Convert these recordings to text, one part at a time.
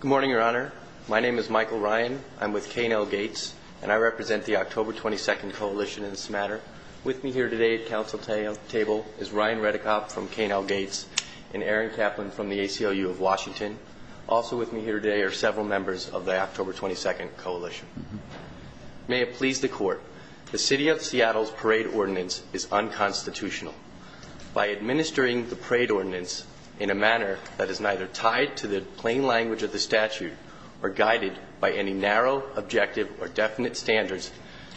Good morning, your honor. My name is Michael Ryan. I'm with K&L Gates and I represent the October 22nd Coalition in this matter. With me here today at council table is Ryan Reddekopp from K&L Gates and Aaron Kaplan from the ACLU of Washington. Also with me here today are several members of the October 22nd Coalition. May it please the court, the City of Seattle's parade ordinance is unconstitutional. By administering the parade ordinance in a manner that is neither tied to the plain language of the statute or guided by any narrow, objective, or definite standards,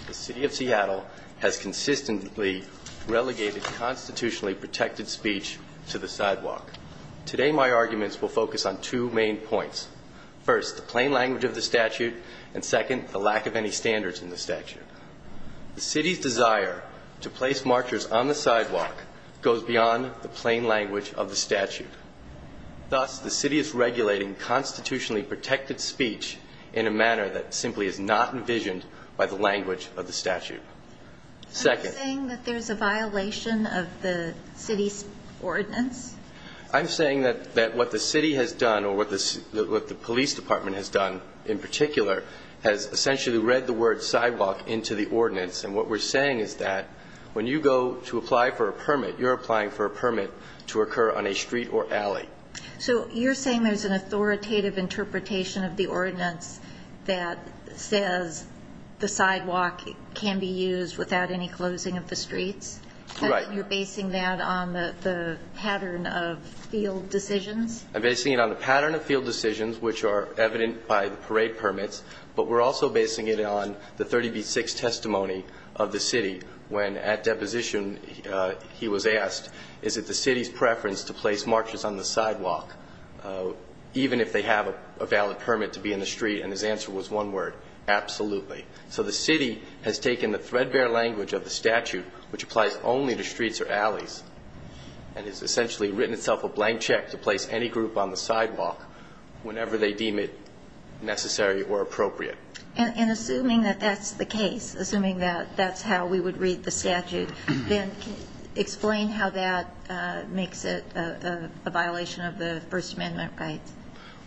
the City of Seattle has consistently relegated constitutionally protected speech to the sidewalk. Today my arguments will focus on two main points. First, the plain language of the statute, and second, the lack of any standards in the statute. The city's desire to place marchers on the sidewalk goes beyond the plain language of the statute. Thus, the city is regulating constitutionally protected speech in a manner that simply is not envisioned by the language of the statute. Second... Are you saying that there's a violation of the city's ordinance? I'm saying that what the city has done or what the police department has done in particular has essentially read the word sidewalk into the ordinance. And what we're saying is that when you go to apply for a permit, you're applying for a permit to occur on a street or alley. So you're saying there's an authoritative interpretation of the ordinance that says the sidewalk can be used without any closing of the streets? Right. And that you're basing that on the pattern of field decisions? I'm basing it on the pattern of field decisions, which are evident by the parade permits, but we're also basing it on the 30b-6 testimony of the city when at deposition he was asked, is it the city's preference to place marchers on the sidewalk even if they have a valid permit to be in the street? And his answer was one word, absolutely. So the city has taken the threadbare language of the statute, which applies only to streets or alleys, and has essentially written itself a blank check to place any group on the sidewalk whenever they deem it necessary or appropriate. And assuming that that's the case, assuming that that's how we would read the statute, then explain how that makes it a violation of the First Amendment rights.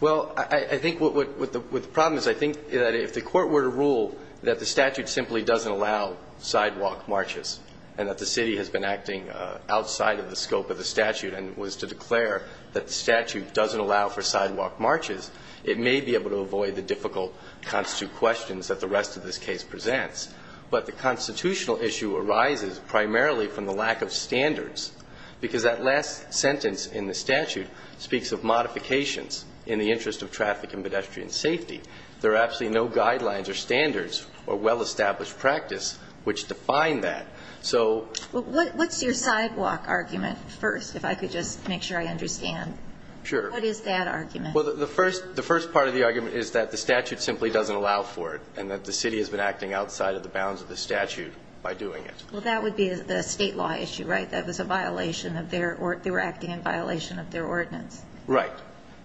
Well, I think what the problem is, I think that if the court were to rule that the statute simply doesn't allow sidewalk marches and that the city has been acting outside of the scope of the statute and was to declare that the statute doesn't allow for sidewalk marches, it may be able to avoid the difficult constitute questions that the rest of this case presents. But the constitutional issue arises primarily from the lack of standards, because that last sentence in the statute speaks of modifications in the interest of traffic and pedestrian safety. There are absolutely no guidelines or standards or well-established practice which define that. So – Well, what's your sidewalk argument first, if I could just make sure I understand? Sure. What is that argument? Well, the first part of the argument is that the statute simply doesn't allow for it and that the city has been acting outside of the bounds of the statute by doing it. Well, that would be the state law issue, right? That was a violation of their – they were acting in violation of their ordinance. Right.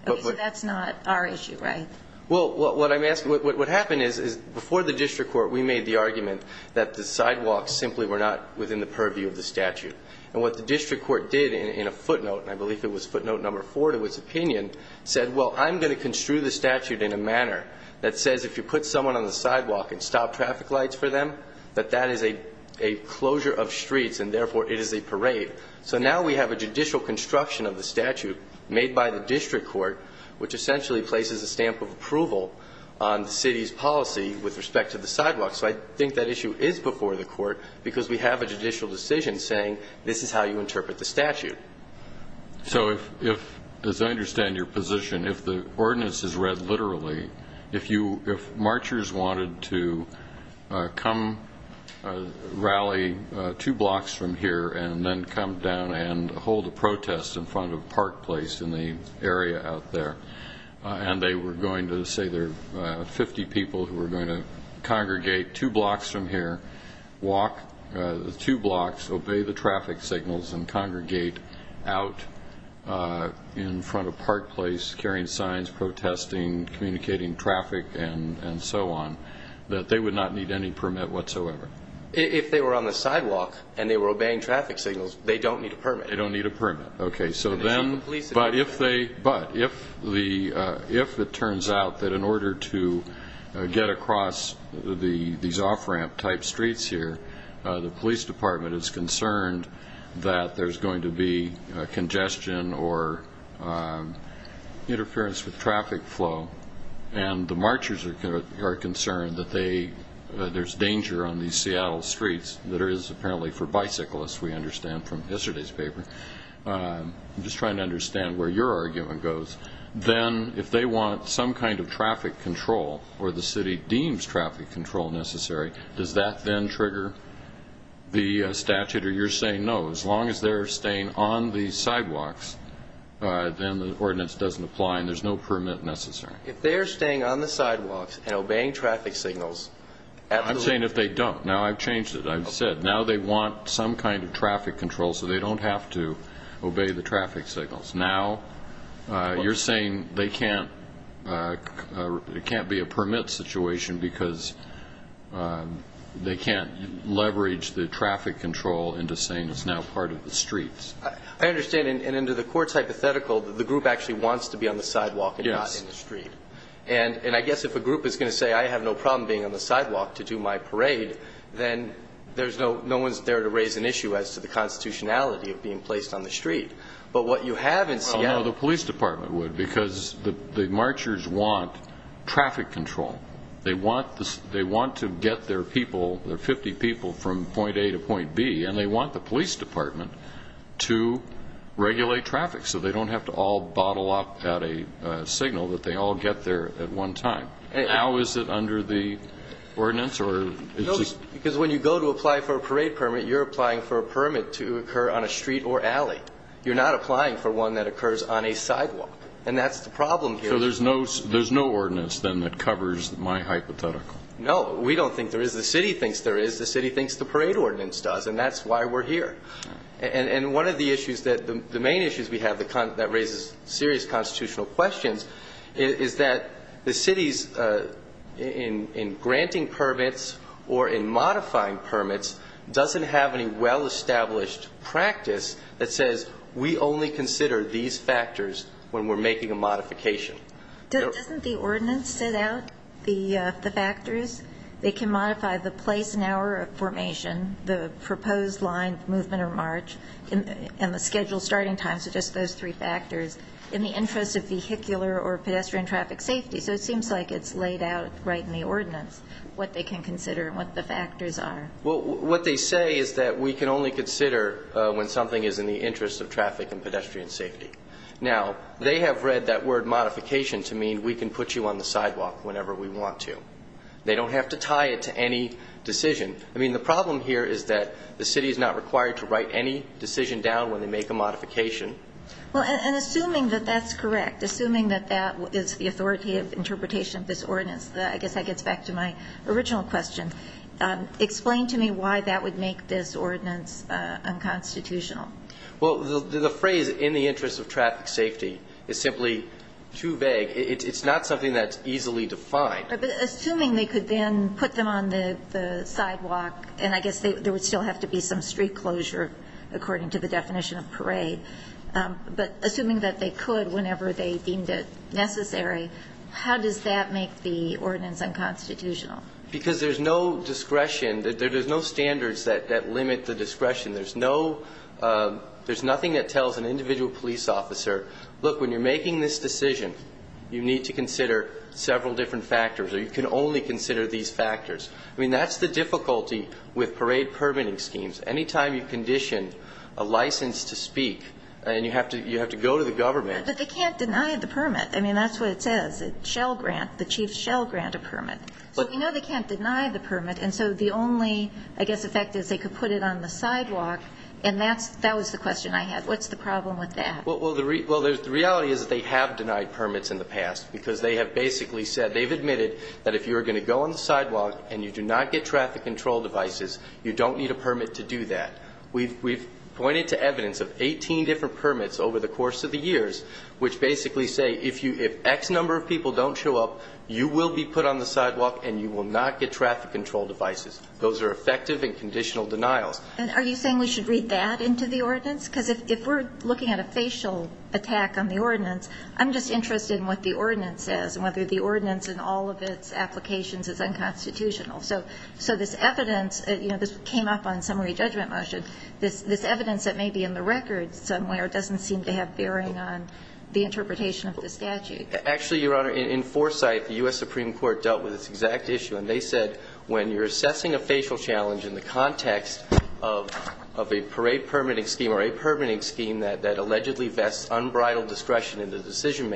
Okay, so that's not our issue, right? Well, what I'm asking – what happened is before the district court, we made the argument that the sidewalks simply were not within the purview of the statute. And what the district court did in a footnote – and I believe it was footnote number four to its opinion – said, well, I'm going to construe the statute in a manner that says if you put someone on the sidewalk and stop traffic lights for them, that that is a closure of streets and therefore it is a parade. So now we have a judicial construction of the statute made by the district court which essentially places a stamp of approval on the city's policy with respect to the sidewalk. So I think that issue is before the court because we have a judicial decision saying this is how you interpret the statute. So if – as I understand your position, if the ordinance is read literally, if you – if a person wanted to come rally two blocks from here and then come down and hold a protest in front of Park Place in the area out there, and they were going to – say there are 50 people who were going to congregate two blocks from here, walk the two blocks, obey the traffic signals, and congregate out in front of Park Place carrying signs protesting, communicating traffic and so on, that they would not need any permit whatsoever. If they were on the sidewalk and they were obeying traffic signals, they don't need a permit. They don't need a permit. Okay. So then – but if they – but if the – if it turns out that in order to get across the – these off-ramp type streets here, the police department is concerned that there's going to be congestion or interference with traffic flow, and the marchers are concerned that they – there's danger on these Seattle streets that is apparently for bicyclists, we understand, from yesterday's paper – I'm just trying to understand where your argument goes – then if they want some kind of traffic control, or the city deems traffic control necessary, does that then trigger the statute, or you're saying, no, as long as they're staying on the sidewalks, then the ordinance doesn't apply and there's no permit necessary? If they're staying on the sidewalks and obeying traffic signals – I'm saying if they don't. Now I've changed it. I've said, now they want some kind of traffic control so they don't have to obey the traffic signals. Now, you're saying they can't – it can't be a permit situation because they can't leverage the traffic control into saying it's now part of the streets. I understand, and into the court's hypothetical, the group actually wants to be on the sidewalk and not in the street. Yes. And I guess if a group is going to say, I have no problem being on the sidewalk to do my parade, then there's no – no one's there to raise an issue as to the constitutionality of being placed on the street. But what you have in Seattle – Well, no, the police department would, because the marchers want traffic control. They want to get their people, their 50 people, from point A to point B, and they want the police department to regulate traffic so they don't have to all bottle up at a signal that they all get there at one time. Now is it under the ordinance, or is this – No, because when you go to apply for a parade permit, you're applying for a permit to occur on a street or alley. You're not applying for one that occurs on a sidewalk. And that's the problem here. So there's no – there's no ordinance, then, that covers my hypothetical? No. We don't think there is. The city thinks there is. The city thinks the parade ordinance does, and that's why we're here. And one of the issues that – the main issues we have that raises serious constitutional questions is that the cities, in granting permits or in modifying permits, doesn't have any well-established practice that says, we only consider these factors when we're making a modification. Doesn't the ordinance set out the factors? They can modify the place and hour of formation, the proposed line, movement, or march, and the scheduled starting time, so just those three factors, in the interest of vehicular or pedestrian traffic safety. So it seems like it's laid out right in the ordinance, what they can consider and what the factors are. Well, what they say is that we can only consider when something is in the interest of traffic and pedestrian safety. Now, they have read that word modification to mean we can put you on the sidewalk whenever we want to. They don't have to tie it to any decision. I mean, the problem here is that the city is not required to write any decision down when they make a modification. Well, and assuming that that's correct, assuming that that is the authority of interpretation of this ordinance, I guess that gets back to my original question. Explain to me why that would make this ordinance unconstitutional. Well, the phrase, in the interest of traffic safety, is simply too vague. It's not something that's easily defined. Assuming they could then put them on the sidewalk, and I guess there would still have to be some street closure according to the definition of parade, but assuming that they could whenever they deemed it necessary, how does that make the ordinance unconstitutional? Because there's no discretion, there's no standards that limit the discretion. There's no, there's nothing that tells an individual police officer, look, when you're making this decision, you need to consider several different factors, or you can only consider these factors. I mean, that's the difficulty with parade permitting schemes. Anytime you condition a license to speak, and you have to go to the government. But they can't deny the permit. I mean, that's what it says. It shall grant, the chief shall grant a permit. So we know they can't deny the permit, and so the only, I guess, effect is they could put it on the sidewalk, and that's, that was the question I had. What's the problem with that? Well, the reality is that they have denied permits in the past, because they have basically said, they've admitted that if you're going to go on the sidewalk and you do not get traffic control devices, you don't need a permit to do that. We've, we've pointed to evidence of 18 different permits over the course of the years, which basically say, if you, if X number of people don't show up, you will be put on the sidewalk, and you will not get traffic control devices. Those are effective and conditional denials. And are you saying we should read that into the ordinance? Because if, if we're looking at a facial attack on the ordinance, I'm just interested in what the ordinance says, and whether the ordinance and all of its applications is unconstitutional. So, so this evidence, you know, this came up on summary judgment motion. This, this evidence that may be in the record somewhere doesn't seem to have bearing on the interpretation of the statute. Actually, Your Honor, in, in Foresight, the U.S. Supreme Court dealt with this exact issue, and they said, when you're assessing a facial challenge in the context of, of a parade permitting scheme or a permitting scheme that, that allegedly vests unbridled discretion in the interpretation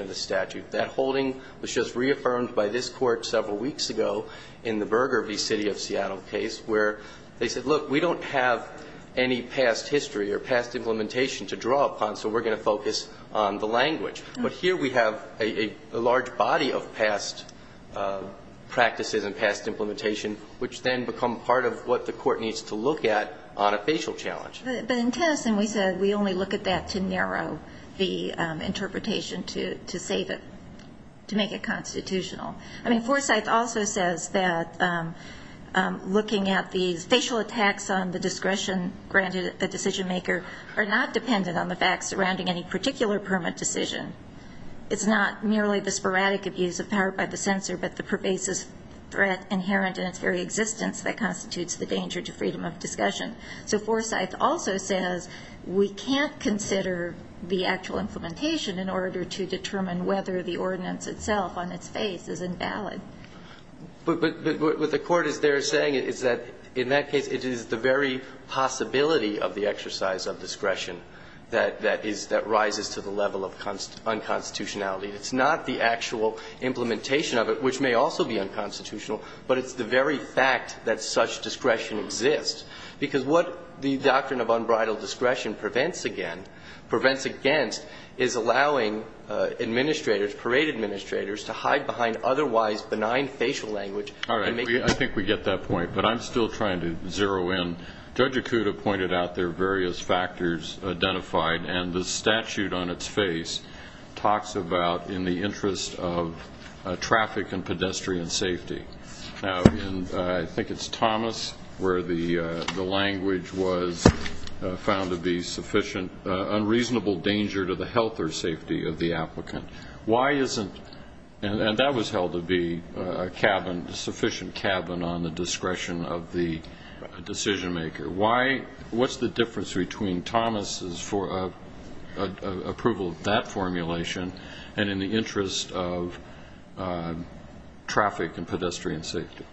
of the statute. That holding was just reaffirmed by this Court several weeks ago in the Burger v. City of Seattle case, where they said, look, we don't have any past history or past implementation to draw upon, so we're going to focus on the language. But here we have a, a large body of past practices and past implementation, which then become part of what the Court needs to look at on a facial challenge. But, but in Tennyson, we said we only look at that to narrow the interpretation to, to save it, to make it constitutional. I mean, Foresight also says that looking at the facial attacks on the discretion granted a decision maker are not dependent on the facts surrounding any particular permit decision. It's not merely the sporadic abuse of power by the censor, but the pervasive threat inherent in its very existence that constitutes the danger to freedom of discussion. So Foresight also says we can't consider the actual implementation in order to determine whether the ordinance itself on its face is invalid. But, but what the Court is there saying is that in that case, it is the very possibility of the exercise of discretion that, that is, that rises to the level of unconstitutionality. It's not the actual implementation of it, which may also be unconstitutional, but it's the very fact that such discretion exists. Because what the doctrine of unbridled discretion prevents again, prevents against, is allowing administrators, parade administrators, to hide behind otherwise benign facial language. All right. I think we get that point. But I'm still trying to zero in. Judge Acuda pointed out there are various factors identified, and the statute on its face talks about in the interest of traffic and pedestrian safety. Now, and I think it's Thomas where the language was found to be sufficient, unreasonable danger to the health or safety of the applicant. Why isn't, and that was held to be a cabin, sufficient cabin on the discretion of the decision maker. What's the difference between Thomas' approval of that formulation and in the interest of traffic and pedestrian safety?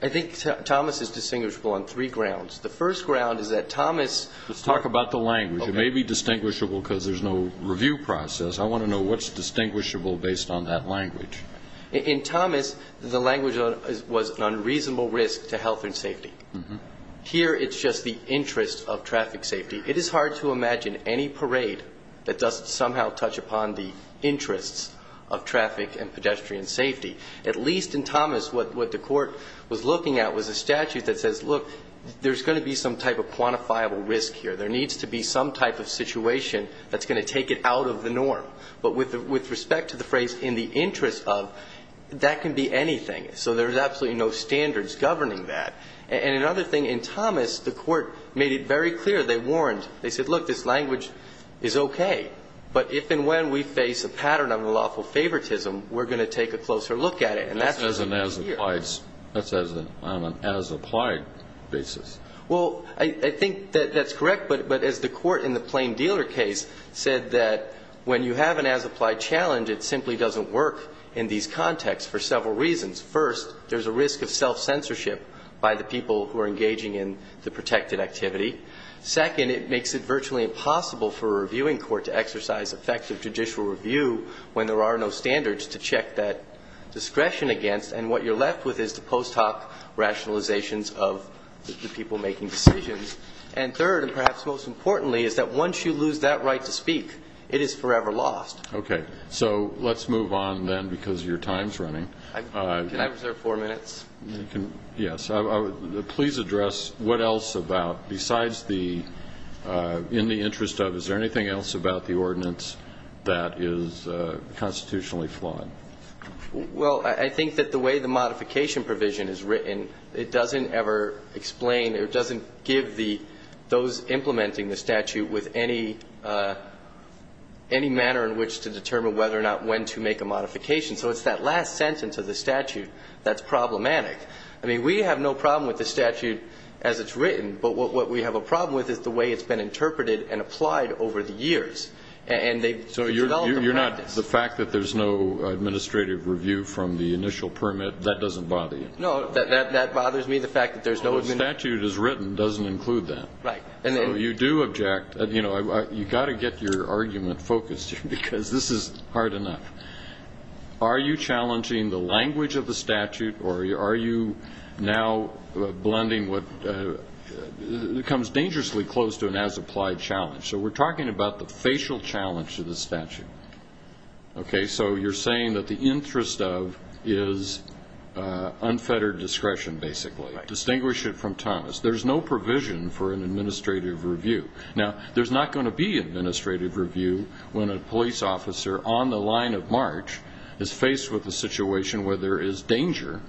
I think Thomas is distinguishable on three grounds. The first ground is that Thomas Let's talk about the language. It may be distinguishable because there's no review process. I want to know what's distinguishable based on that language. In Thomas, the language was an unreasonable risk to health and safety. Here, it's just the interest of traffic safety. It is hard to imagine any parade that doesn't somehow touch upon the interests of traffic and pedestrian safety. At least in Thomas, what the court was looking at was a statute that says, look, there's going to be some type of quantifiable risk here. There needs to be some type of situation that's going to take it out of the norm. But with respect to the phrase in the interest of, that can be anything. So there's absolutely no standards governing that. And another thing, in Thomas, the court made it very clear. They warned. They said, look, this language is okay. But if and when we face a pattern of unlawful favoritism, we're going to take a closer look at it. That's on an as-applied basis. Well, I think that that's correct. But as the court in the plain dealer case said that when you have an as-applied challenge, it simply doesn't work in these contexts for several reasons. First, there's a risk of self-censorship by the people who are engaging in the protected activity. Second, it makes it virtually impossible for a reviewing court to exercise effective judicial review when there are no standards to check that discretion against. And what you're left with is the post hoc rationalizations of the people making decisions. And third, and perhaps most importantly, is that once you lose that right to speak, it is forever lost. Okay. So let's move on then, because your time's running. Can I reserve four minutes? Yes. Please address what else about, besides the in the interest of, is there anything else about the ordinance that is constitutionally flawed? Well, I think that the way the modification provision is written, it doesn't ever explain, it doesn't give those implementing the statute with any manner in which to determine whether or not when to make a modification. So it's that last sentence of the statute that's problematic. I mean, we have no problem with the statute as it's written, but what we have a problem with is the way it's been interpreted and applied over the years. So you're not, the fact that there's no administrative review from the initial permit, that doesn't bother you? No, that bothers me, the fact that there's no... The statute as written doesn't include that. Right. You do object, you know, you've got to get your argument focused here, because this is hard enough. Are you challenging the language of the statute, or are you now blending what comes dangerously close to an as-applied challenge? So we're talking about the facial challenge to the statute. Okay, so you're saying that the interest of is unfettered discretion, basically. Right. Distinguish it from Thomas. There's no provision for an administrative review. Now, there's not going to be an administrative review when a police officer on the line of march is faced with a situation where there is danger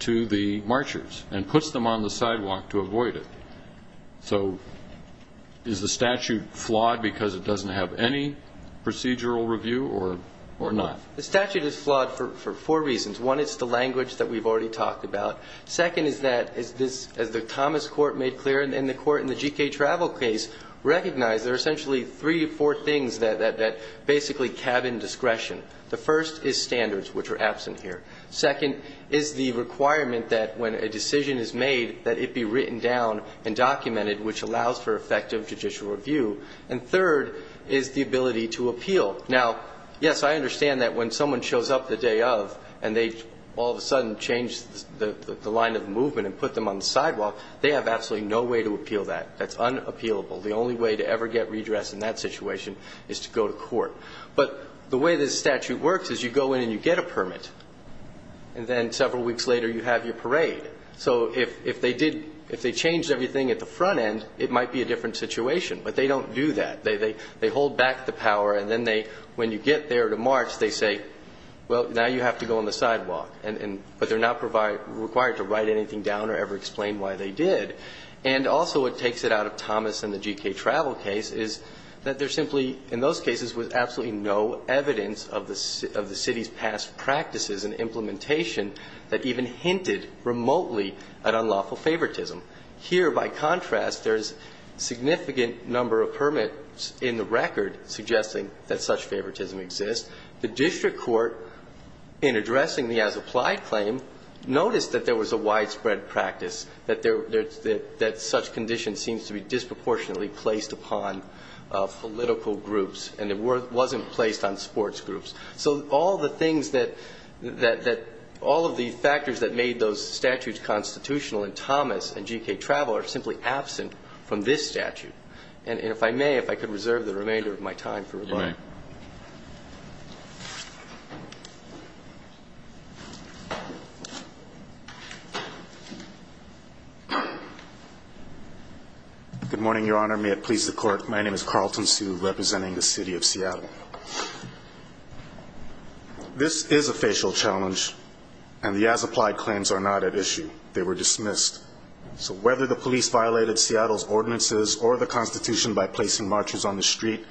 to the marchers and puts them on the sidewalk to avoid it. So is the statute flawed because it doesn't have any procedural review or not? The statute is flawed for four reasons. One, it's the language that we've already talked about. Second is that, as the Thomas court made clear and the court in the G.K. Travel case recognized, there are essentially three or four things that basically cabin discretion. The first is standards, which are absent here. Second is the requirement that when a decision is made, that it be written down and documented, which allows for effective judicial review. And third is the ability to appeal. Now, yes, I understand that when someone shows up the day of and they all of a sudden change the line of movement and put them on the sidewalk, they have absolutely no way to appeal that. That's unappealable. The only way to ever get redressed in that situation is to go to court. But the way this statute works is you go in and you get a permit. And then several weeks later, you have your parade. So if they changed everything at the front end, it might be a different situation. But they don't do that. They hold back the power, and then when you get there to march, they say, well, now you have to go on the sidewalk. But they're not required to write anything down or ever explain why they did. And also what takes it out of Thomas and the G.K. Travel case is that there simply, in those cases, was absolutely no evidence of the city's past practices and implementation that even hinted remotely at unlawful favoritism. Here, by contrast, there's a significant number of permits in the record suggesting that such favoritism exists. The district court, in addressing the as-applied claim, noticed that there was a widespread practice, that such conditions seem to be disproportionately placed upon political groups, and it wasn't placed on sports groups. So all of the factors that made those statutes constitutional in Thomas and G.K. Travel are simply absent from this statute. And if I may, if I could reserve the remainder of my time for rebuttal. Thank you. Good morning, Your Honor. May it please the Court. My name is Carlton Sue, representing the City of Seattle. This is a facial challenge, and the as-applied claims are not at issue. They were dismissed. So whether the police violated Seattle's ordinances or the Constitution by placing marchers on the street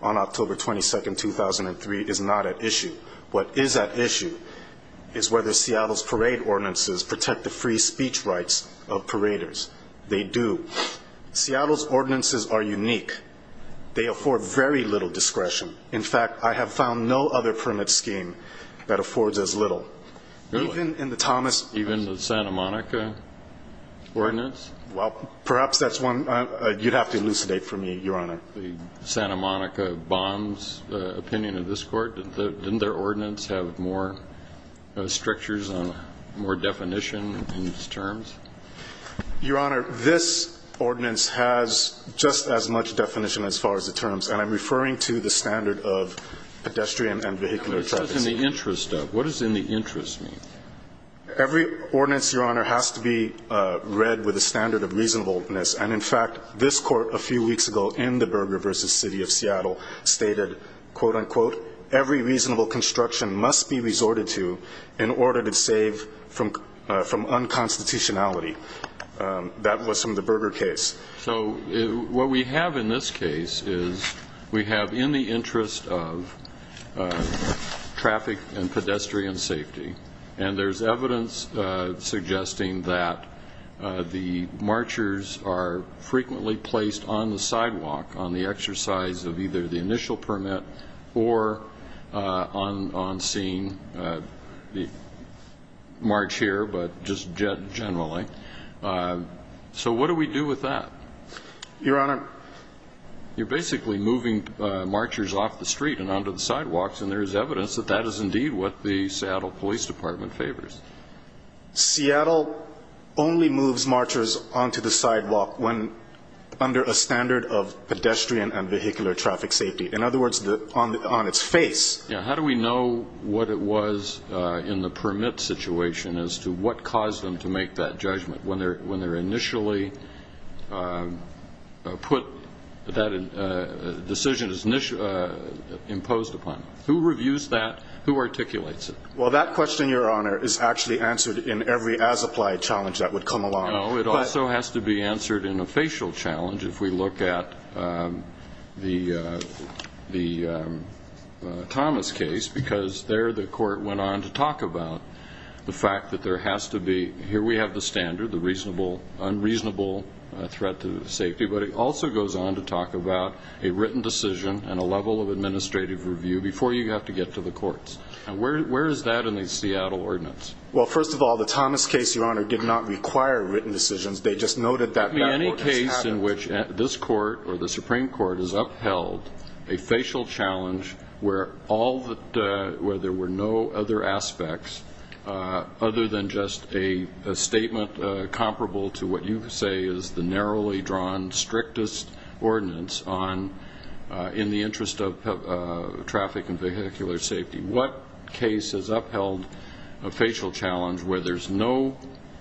on October 22, 2003, is not at issue. What is at issue is whether Seattle's parade ordinances protect the free speech rights of paraders. They do. Seattle's ordinances are unique. They afford very little discretion. In fact, I have found no other permit scheme that affords as little. Really? Even in the Thomas. Even the Santa Monica ordinance? Well, perhaps that's one you'd have to elucidate for me, Your Honor. The Santa Monica bonds opinion of this Court, didn't their ordinance have more strictures and more definition in its terms? Your Honor, this ordinance has just as much definition as far as the terms, and I'm referring to the standard of pedestrian and vehicular traffic. What does in the interest of? What does in the interest mean? Every ordinance, Your Honor, has to be read with a standard of reasonableness, and, in fact, this Court a few weeks ago in the Berger v. City of Seattle stated, quote, unquote, every reasonable construction must be resorted to in order to save from unconstitutionality. That was from the Berger case. So what we have in this case is we have in the interest of traffic and pedestrian safety, and there's evidence suggesting that the marchers are frequently placed on the sidewalk on the exercise of either the initial permit or on scene, march here but just generally. So what do we do with that? Your Honor. You're basically moving marchers off the street and onto the sidewalks, and there is evidence that that is indeed what the Seattle Police Department favors. Seattle only moves marchers onto the sidewalk when under a standard of pedestrian and vehicular traffic safety. In other words, on its face. Yeah. How do we know what it was in the permit situation as to what caused them to make that judgment when they're initially put that decision is imposed upon? Who reviews that? Who articulates it? Well, that question, Your Honor, is actually answered in every as-applied challenge that would come along. No, it also has to be answered in a facial challenge if we look at the Thomas case, because there the court went on to talk about the fact that there has to be, here we have the standard, the unreasonable threat to safety, but it also goes on to talk about a written decision and a level of administrative review before you have to get to the courts. And where is that in the Seattle ordinance? Well, first of all, the Thomas case, Your Honor, did not require written decisions. They just noted that that was the pattern. Any case in which this court or the Supreme Court has upheld a facial challenge where there were no other aspects other than just a statement comparable to what you say is the narrowly drawn strictest ordinance in the interest of traffic and vehicular safety. What case has upheld a facial challenge where there's no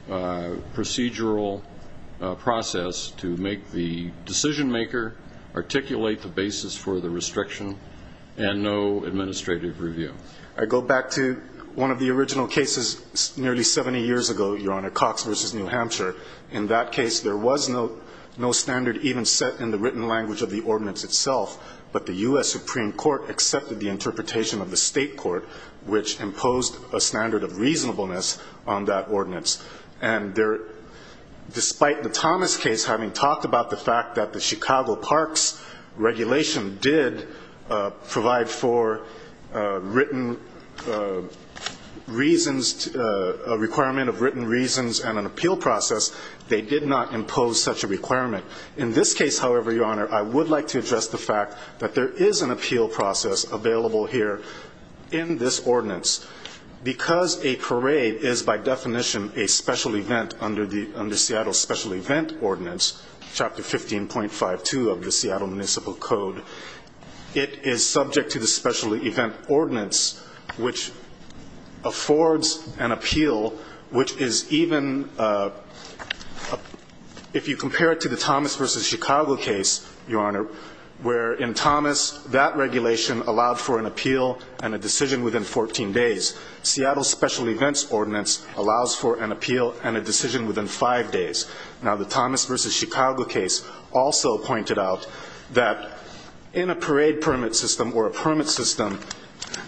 procedural process to make the decision maker articulate the basis for the restriction and no administrative review? I go back to one of the original cases nearly 70 years ago, Your Honor, Cox v. New Hampshire. In that case, there was no standard even set in the written language of the ordinance itself, but the U.S. Supreme Court accepted the interpretation of the state court, which imposed a standard of reasonableness on that ordinance. And despite the Thomas case having talked about the fact that the Chicago Parks regulation did provide for a requirement of written reasons and an appeal process, they did not impose such a requirement. In this case, however, Your Honor, I would like to address the fact that there is an appeal process available here in this ordinance. Because a parade is by definition a special event under Seattle's special event ordinance, Chapter 15.52 of the Seattle Municipal Code, it is subject to the special event ordinance, which affords an appeal which is even, if you compare it to the Thomas v. Chicago case, Your Honor, where in Thomas that regulation allowed for an appeal and a decision within 14 days. Seattle's special events ordinance allows for an appeal and a decision within five days. Now, the Thomas v. Chicago case also pointed out that in a parade permit system or a permit system,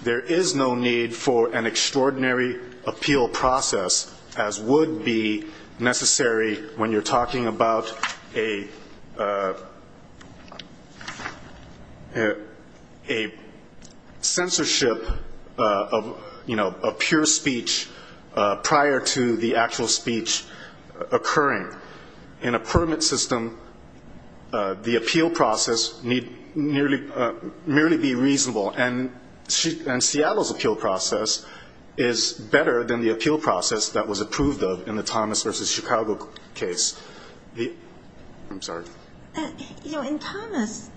there is no need for an extraordinary appeal process as would be necessary when you're talking about a censorship of pure speech prior to the actual speech occurring. In a permit system, the appeal process need merely be reasonable, and Seattle's appeal process is better than the appeal process that was approved of in the Thomas v. Chicago case. I'm sorry. In Thomas,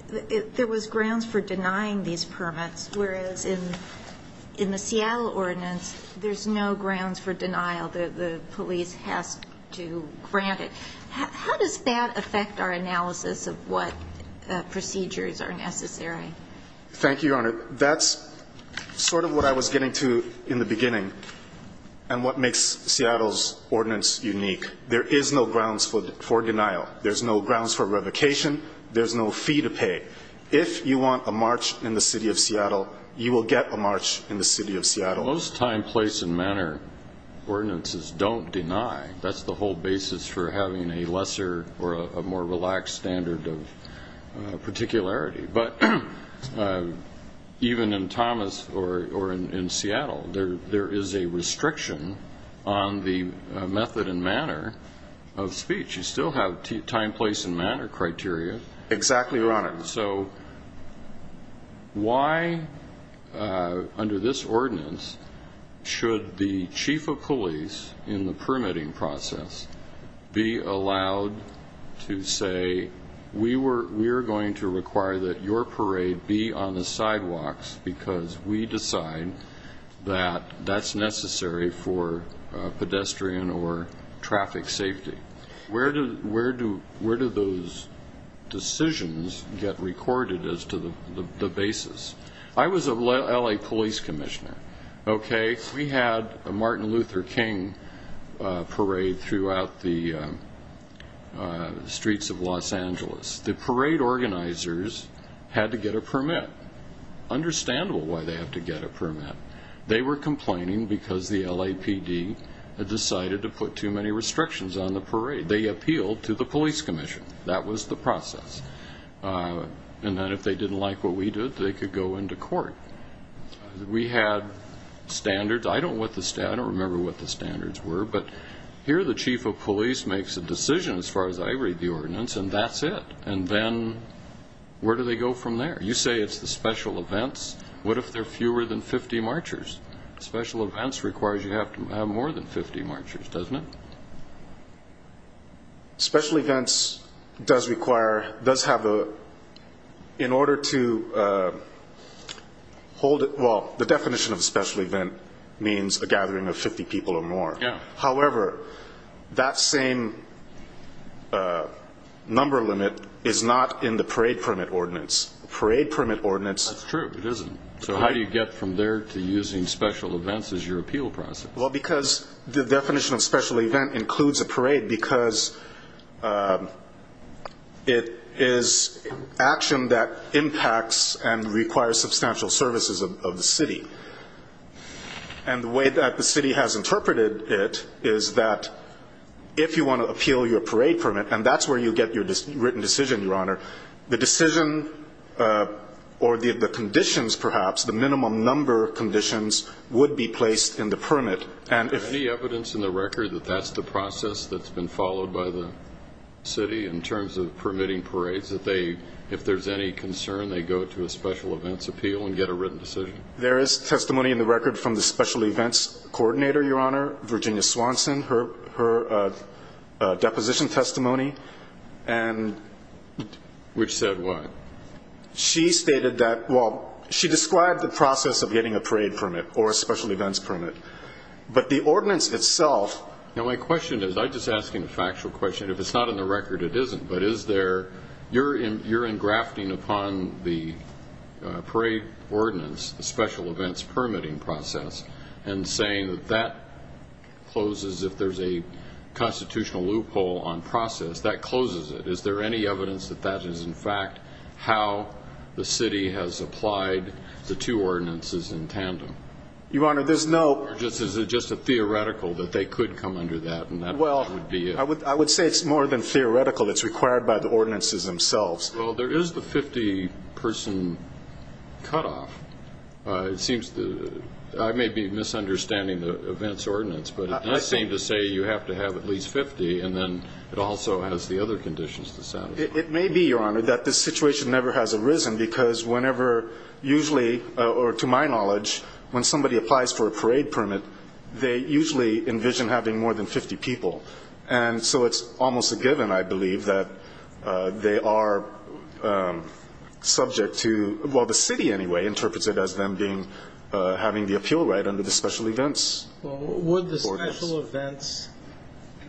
there was grounds for denying these permits, whereas in the Seattle ordinance, there's no grounds for denial. The police has to grant it. How does that affect our analysis of what procedures are necessary? Thank you, Your Honor. That's sort of what I was getting to in the beginning and what makes Seattle's ordinance unique. There is no grounds for denial. There's no grounds for revocation. There's no fee to pay. If you want a march in the city of Seattle, you will get a march in the city of Seattle. Most time, place, and manner ordinances don't deny. That's the whole basis for having a lesser or a more relaxed standard of particularity. But even in Thomas or in Seattle, there is a restriction on the method and manner of speech. You still have time, place, and manner criteria. Exactly, Your Honor. So why, under this ordinance, should the chief of police in the permitting process be allowed to say, we are going to require that your parade be on the sidewalks because we decide that that's necessary for pedestrian or traffic safety? Where do those decisions get recorded as to the basis? I was a L.A. police commissioner. We had a Martin Luther King parade throughout the streets of Los Angeles. The parade organizers had to get a permit. They were complaining because the LAPD had decided to put too many restrictions on the parade. They appealed to the police commission. That was the process. And then if they didn't like what we did, they could go into court. We had standards. I don't remember what the standards were. But here the chief of police makes a decision as far as I read the ordinance, and that's it. And then where do they go from there? You say it's the special events. What if there are fewer than 50 marchers? Special events requires you to have more than 50 marchers, doesn't it? Special events does require, does have a, in order to hold it, well, the definition of a special event means a gathering of 50 people or more. However, that same number limit is not in the parade permit ordinance. That's true. It isn't. So how do you get from there to using special events as your appeal process? Well, because the definition of special event includes a parade because it is action that impacts and requires substantial services of the city. And the way that the city has interpreted it is that if you want to appeal your parade permit, and that's where you get your written decision, Your Honor, the decision or the conditions perhaps, the minimum number of conditions, would be placed in the permit. Is there any evidence in the record that that's the process that's been followed by the city in terms of permitting parades, that if there's any concern, they go to a special events appeal and get a written decision? There is testimony in the record from the special events coordinator, Your Honor, Virginia Swanson, her deposition testimony. Which said what? She stated that, well, she described the process of getting a parade permit or a special events permit. But the ordinance itself. Now my question is, I'm just asking a factual question. If it's not in the record, it isn't. But you're engrafting upon the parade ordinance the special events permitting process and saying that that closes if there's a constitutional loophole on process, that closes it. Is there any evidence that that is, in fact, how the city has applied the two ordinances in tandem? Your Honor, there's no ---- Or is it just a theoretical that they could come under that and that would be it? I would say it's more than theoretical. It's required by the ordinances themselves. Well, there is the 50-person cutoff. It seems I may be misunderstanding the events ordinance. But it does seem to say you have to have at least 50, and then it also has the other conditions to satisfy. It may be, Your Honor, that this situation never has arisen because whenever usually, or to my knowledge, when somebody applies for a parade permit, they usually envision having more than 50 people. And so it's almost a given, I believe, that they are subject to ---- well, the city, anyway, interprets it as them having the appeal right under the special events. Would the special events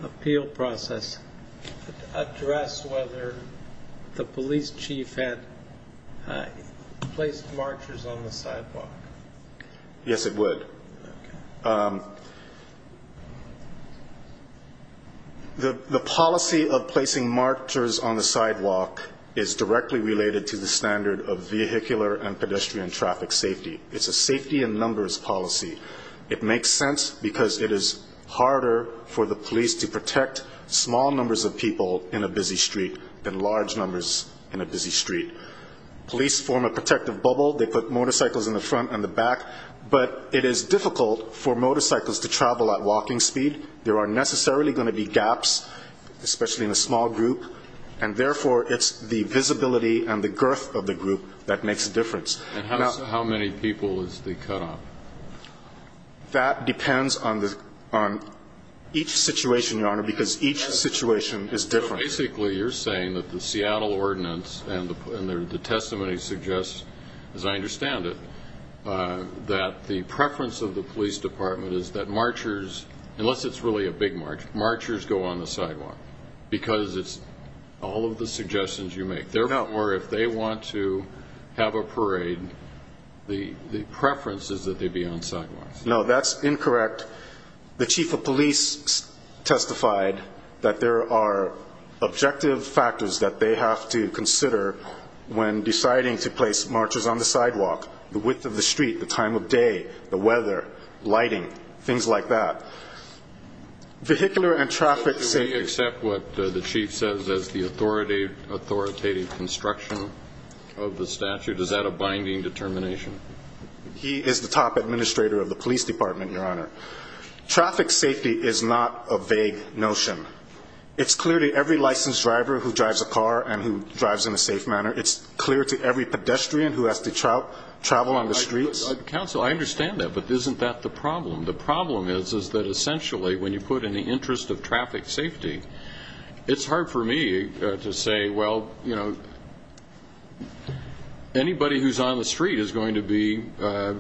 appeal process address whether the police chief had placed marchers on the sidewalk? Yes, it would. Okay. The policy of placing marchers on the sidewalk is directly related to the standard of vehicular and pedestrian traffic safety. It's a safety in numbers policy. It makes sense because it is harder for the police to protect small numbers of people in a busy street than large numbers in a busy street. Police form a protective bubble. They put motorcycles in the front and the back. But it is difficult for motorcycles to travel at walking speed. There are necessarily going to be gaps, especially in a small group, and therefore it's the visibility and the girth of the group that makes a difference. And how many people is the cutoff? That depends on each situation, Your Honor, because each situation is different. Basically, you're saying that the Seattle ordinance and the testimony suggests, as I understand it, that the preference of the police department is that marchers, unless it's really a big march, marchers go on the sidewalk because it's all of the suggestions you make. Therefore, if they want to have a parade, the preference is that they be on sidewalks. No, that's incorrect. The chief of police testified that there are objective factors that they have to consider when deciding to place marchers on the sidewalk. The width of the street, the time of day, the weather, lighting, things like that. Vehicular and traffic safety. Do we accept what the chief says as the authoritative construction of the statute? Is that a binding determination? He is the top administrator of the police department, Your Honor. Traffic safety is not a vague notion. It's clear to every licensed driver who drives a car and who drives in a safe manner. It's clear to every pedestrian who has to travel on the streets. Counsel, I understand that, but isn't that the problem? The problem is that essentially when you put in the interest of traffic safety, it's hard for me to say, well, anybody who's on the street is going to be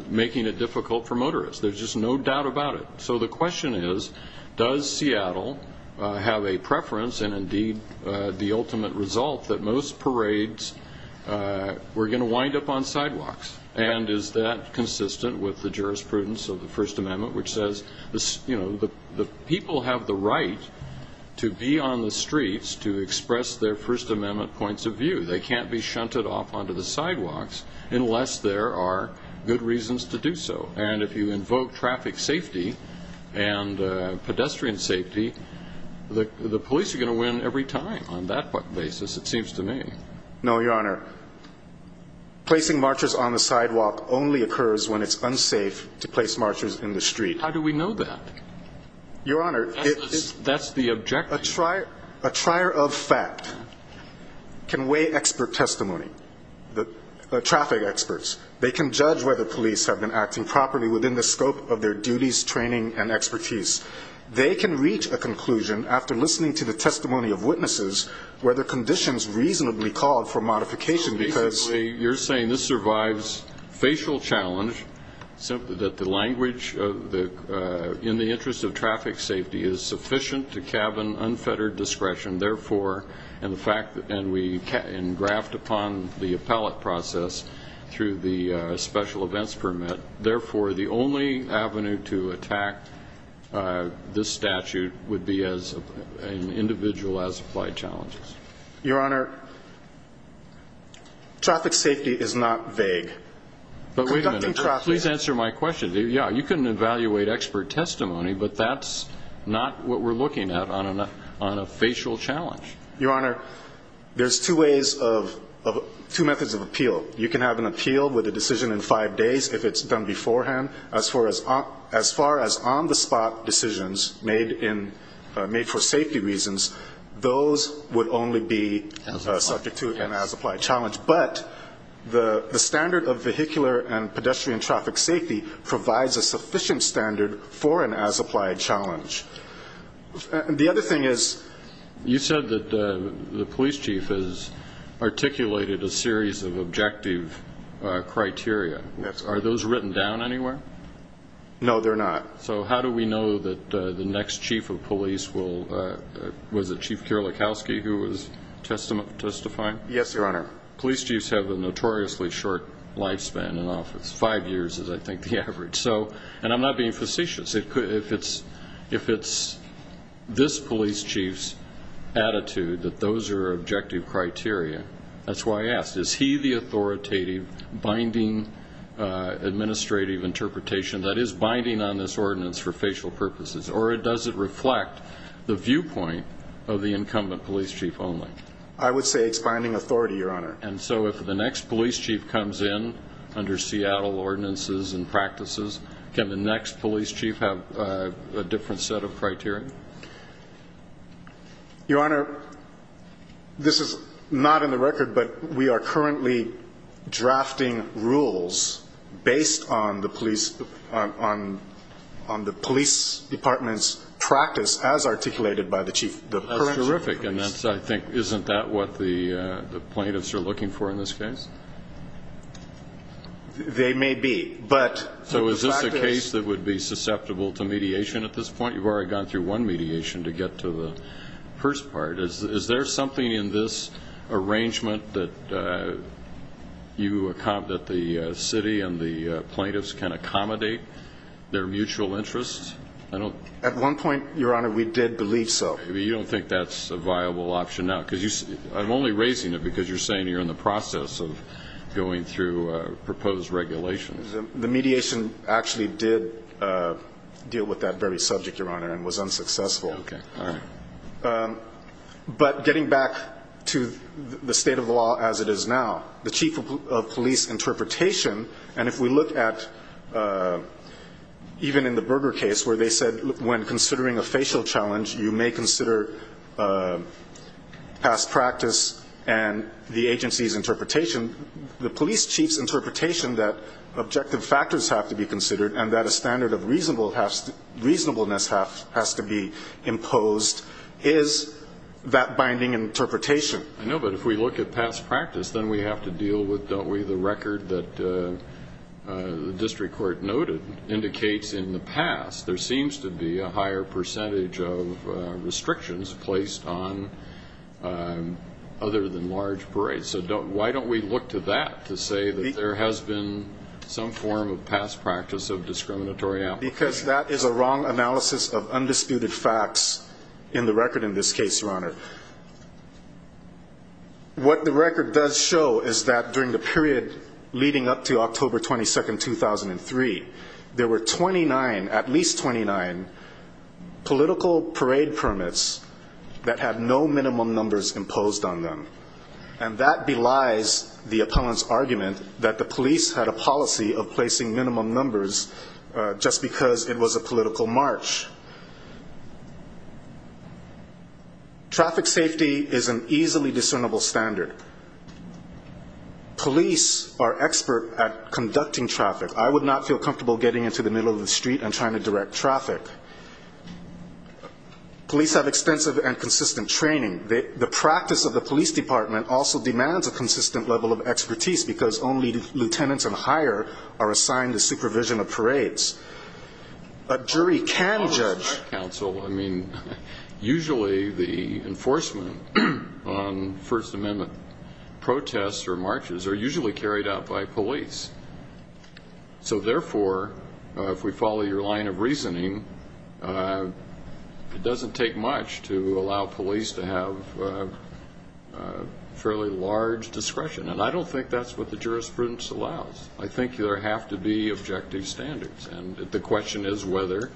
making it difficult for motorists. There's just no doubt about it. So the question is, does Seattle have a preference, and indeed the ultimate result, that most parades, we're going to wind up on sidewalks? And is that consistent with the jurisprudence of the First Amendment, which says the people have the right to be on the streets to express their First Amendment points of view. They can't be shunted off onto the sidewalks unless there are good reasons to do so. And if you invoke traffic safety and pedestrian safety, the police are going to win every time on that basis, it seems to me. No, Your Honor. Placing marchers on the sidewalk only occurs when it's unsafe to place marchers in the street. How do we know that? Your Honor. That's the objective. A trier of fact can weigh expert testimony, traffic experts. They can judge whether police have been acting properly within the scope of their duties, training, and expertise. They can reach a conclusion after listening to the testimony of witnesses whether conditions reasonably called for modification because So basically you're saying this survives facial challenge, that the language in the interest of traffic safety is sufficient to cabin unfettered discretion, and we graft upon the appellate process through the special events permit. Therefore, the only avenue to attack this statute would be as an individual as applied challenges. Your Honor, traffic safety is not vague. But wait a minute. Please answer my question. Yeah, you can evaluate expert testimony, but that's not what we're looking at on a facial challenge. Your Honor, there's two methods of appeal. You can have an appeal with a decision in five days if it's done beforehand. As far as on-the-spot decisions made for safety reasons, those would only be subject to an as-applied challenge. But the standard of vehicular and pedestrian traffic safety provides a sufficient standard for an as-applied challenge. The other thing is you said that the police chief has articulated a series of objective criteria. Yes. Are those written down anywhere? No, they're not. So how do we know that the next chief of police will – was it Chief Kierlikowski who was testifying? Yes, Your Honor. Police chiefs have a notoriously short lifespan in office. Five years is, I think, the average. And I'm not being facetious. If it's this police chief's attitude that those are objective criteria, that's why I asked, is he the authoritative, binding, administrative interpretation that is binding on this ordinance for facial purposes, or does it reflect the viewpoint of the incumbent police chief only? I would say it's binding authority, Your Honor. And so if the next police chief comes in under Seattle ordinances and practices, can the next police chief have a different set of criteria? Your Honor, this is not in the record, but we are currently drafting rules based on the police department's practice as articulated by the chief. That's terrific. And that's, I think, isn't that what the plaintiffs are looking for in this case? They may be. So is this a case that would be susceptible to mediation at this point? You've already gone through one mediation to get to the first part. Is there something in this arrangement that the city and the plaintiffs can accommodate their mutual interests? At one point, Your Honor, we did believe so. You don't think that's a viable option now? I'm only raising it because you're saying you're in the process of going through proposed regulations. The mediation actually did deal with that very subject, Your Honor, and was unsuccessful. Okay. All right. But getting back to the state of the law as it is now, the chief of police interpretation, and if we look at even in the Berger case where they said when considering a facial challenge, you may consider past practice and the agency's interpretation, the police chief's interpretation that objective factors have to be considered and that a standard of reasonableness has to be imposed is that binding interpretation. I know, but if we look at past practice, then we have to deal with, don't we, the record that the district court noted indicates in the past there seems to be a higher percentage of restrictions placed on other than large parades. So why don't we look to that to say that there has been some form of past practice of discriminatory application? Because that is a wrong analysis of undisputed facts in the record in this case, Your Honor. What the record does show is that during the period leading up to October 22, 2003, there were 29, at least 29, political parade permits that had no minimum numbers imposed on them, and that belies the appellant's argument that the police had a policy of placing minimum numbers just because it was a political march. Traffic safety is an easily discernible standard. Police are expert at conducting traffic. I would not feel comfortable getting into the middle of the street and trying to direct traffic. Police have extensive and consistent training. The practice of the police department also demands a consistent level of expertise because only lieutenants and higher are assigned the supervision of parades. A jury can judge. Counsel, I mean, usually the enforcement on First Amendment protests or marches are usually carried out by police. So, therefore, if we follow your line of reasoning, it doesn't take much to allow police to have fairly large discretion. And I don't think that's what the jurisprudence allows. I think there have to be objective standards. And the question is whether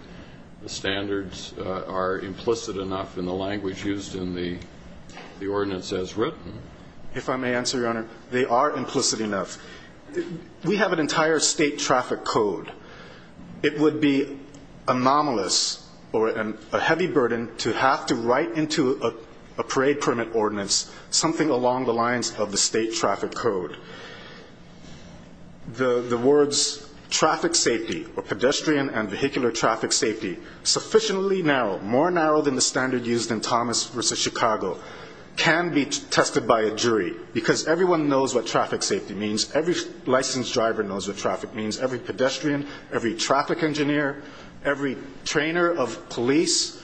the standards are implicit enough in the language used in the ordinance as written. If I may answer, Your Honor, they are implicit enough. We have an entire state traffic code. It would be anomalous or a heavy burden to have to write into a parade permit ordinance something along the lines of the state traffic code. The words traffic safety or pedestrian and vehicular traffic safety sufficiently narrow, more narrow than the standard used in Thomas v. Chicago, can be tested by a jury because everyone knows what traffic safety means. Every licensed driver knows what traffic means. Every pedestrian, every traffic engineer, every trainer of police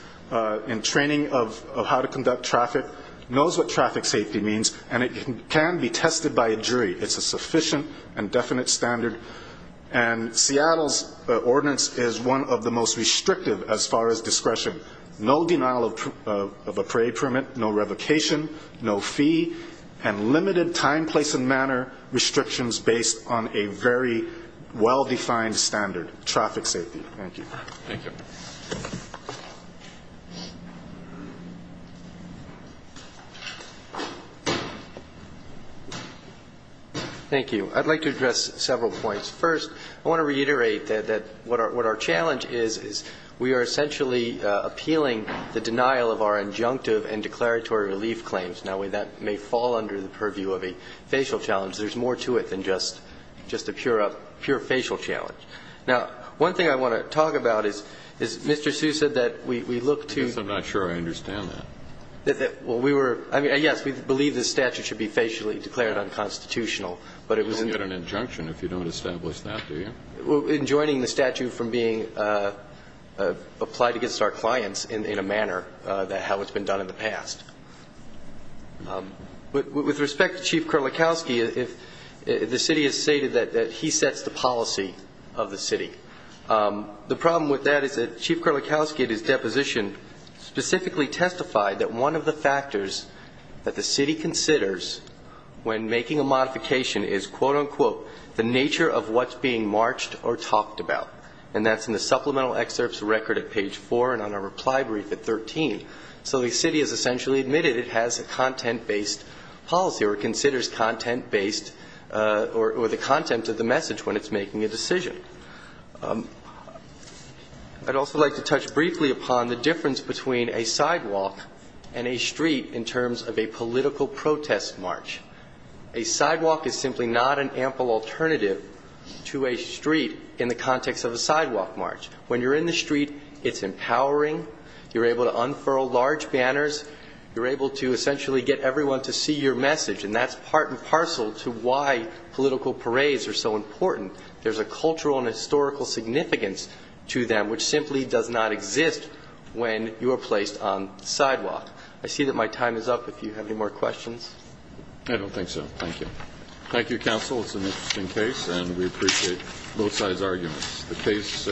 in training of how to conduct traffic knows what traffic safety means, and it can be tested by a jury. It's a sufficient and definite standard. And Seattle's ordinance is one of the most restrictive as far as discretion. No denial of a parade permit, no revocation, no fee, and limited time, place, and manner restrictions based on a very well-defined standard, traffic safety. Thank you. Thank you. Thank you. I'd like to address several points. First, I want to reiterate that what our challenge is, is we are essentially appealing the denial of our injunctive and declaratory relief claims. Now, that may fall under the purview of a facial challenge. There's more to it than just a pure facial challenge. Now, one thing I want to talk about is Mr. Hsu said that we look to. I guess I'm not sure I understand that. Well, we were. I mean, yes, we believe the statute should be facially declared unconstitutional, but it was. You don't get an injunction if you don't establish that, do you? In joining the statute from being applied against our clients in a manner how it's been done in the past. With respect to Chief Kurlikowski, the city has stated that he sets the policy of the city. The problem with that is that Chief Kurlikowski, at his deposition, specifically testified that one of the factors that the city considers when making a modification is, quote, unquote, the nature of what's being marched or talked about, and that's in the supplemental excerpts record at page four and on our reply brief at 13. So the city has essentially admitted it has a content-based policy or considers content-based or the content of the message when it's making a decision. I'd also like to touch briefly upon the difference between a sidewalk and a street in terms of a political protest march. A sidewalk is simply not an ample alternative to a street in the context of a sidewalk march. When you're in the street, it's empowering. You're able to unfurl large banners. You're able to essentially get everyone to see your message, and that's part and parcel to why political parades are so important. There's a cultural and historical significance to them, which simply does not exist when you are placed on the sidewalk. I see that my time is up. If you have any more questions. I don't think so. Thank you. Thank you, counsel. It's an interesting case, and we appreciate both sides' arguments. The case is submitted.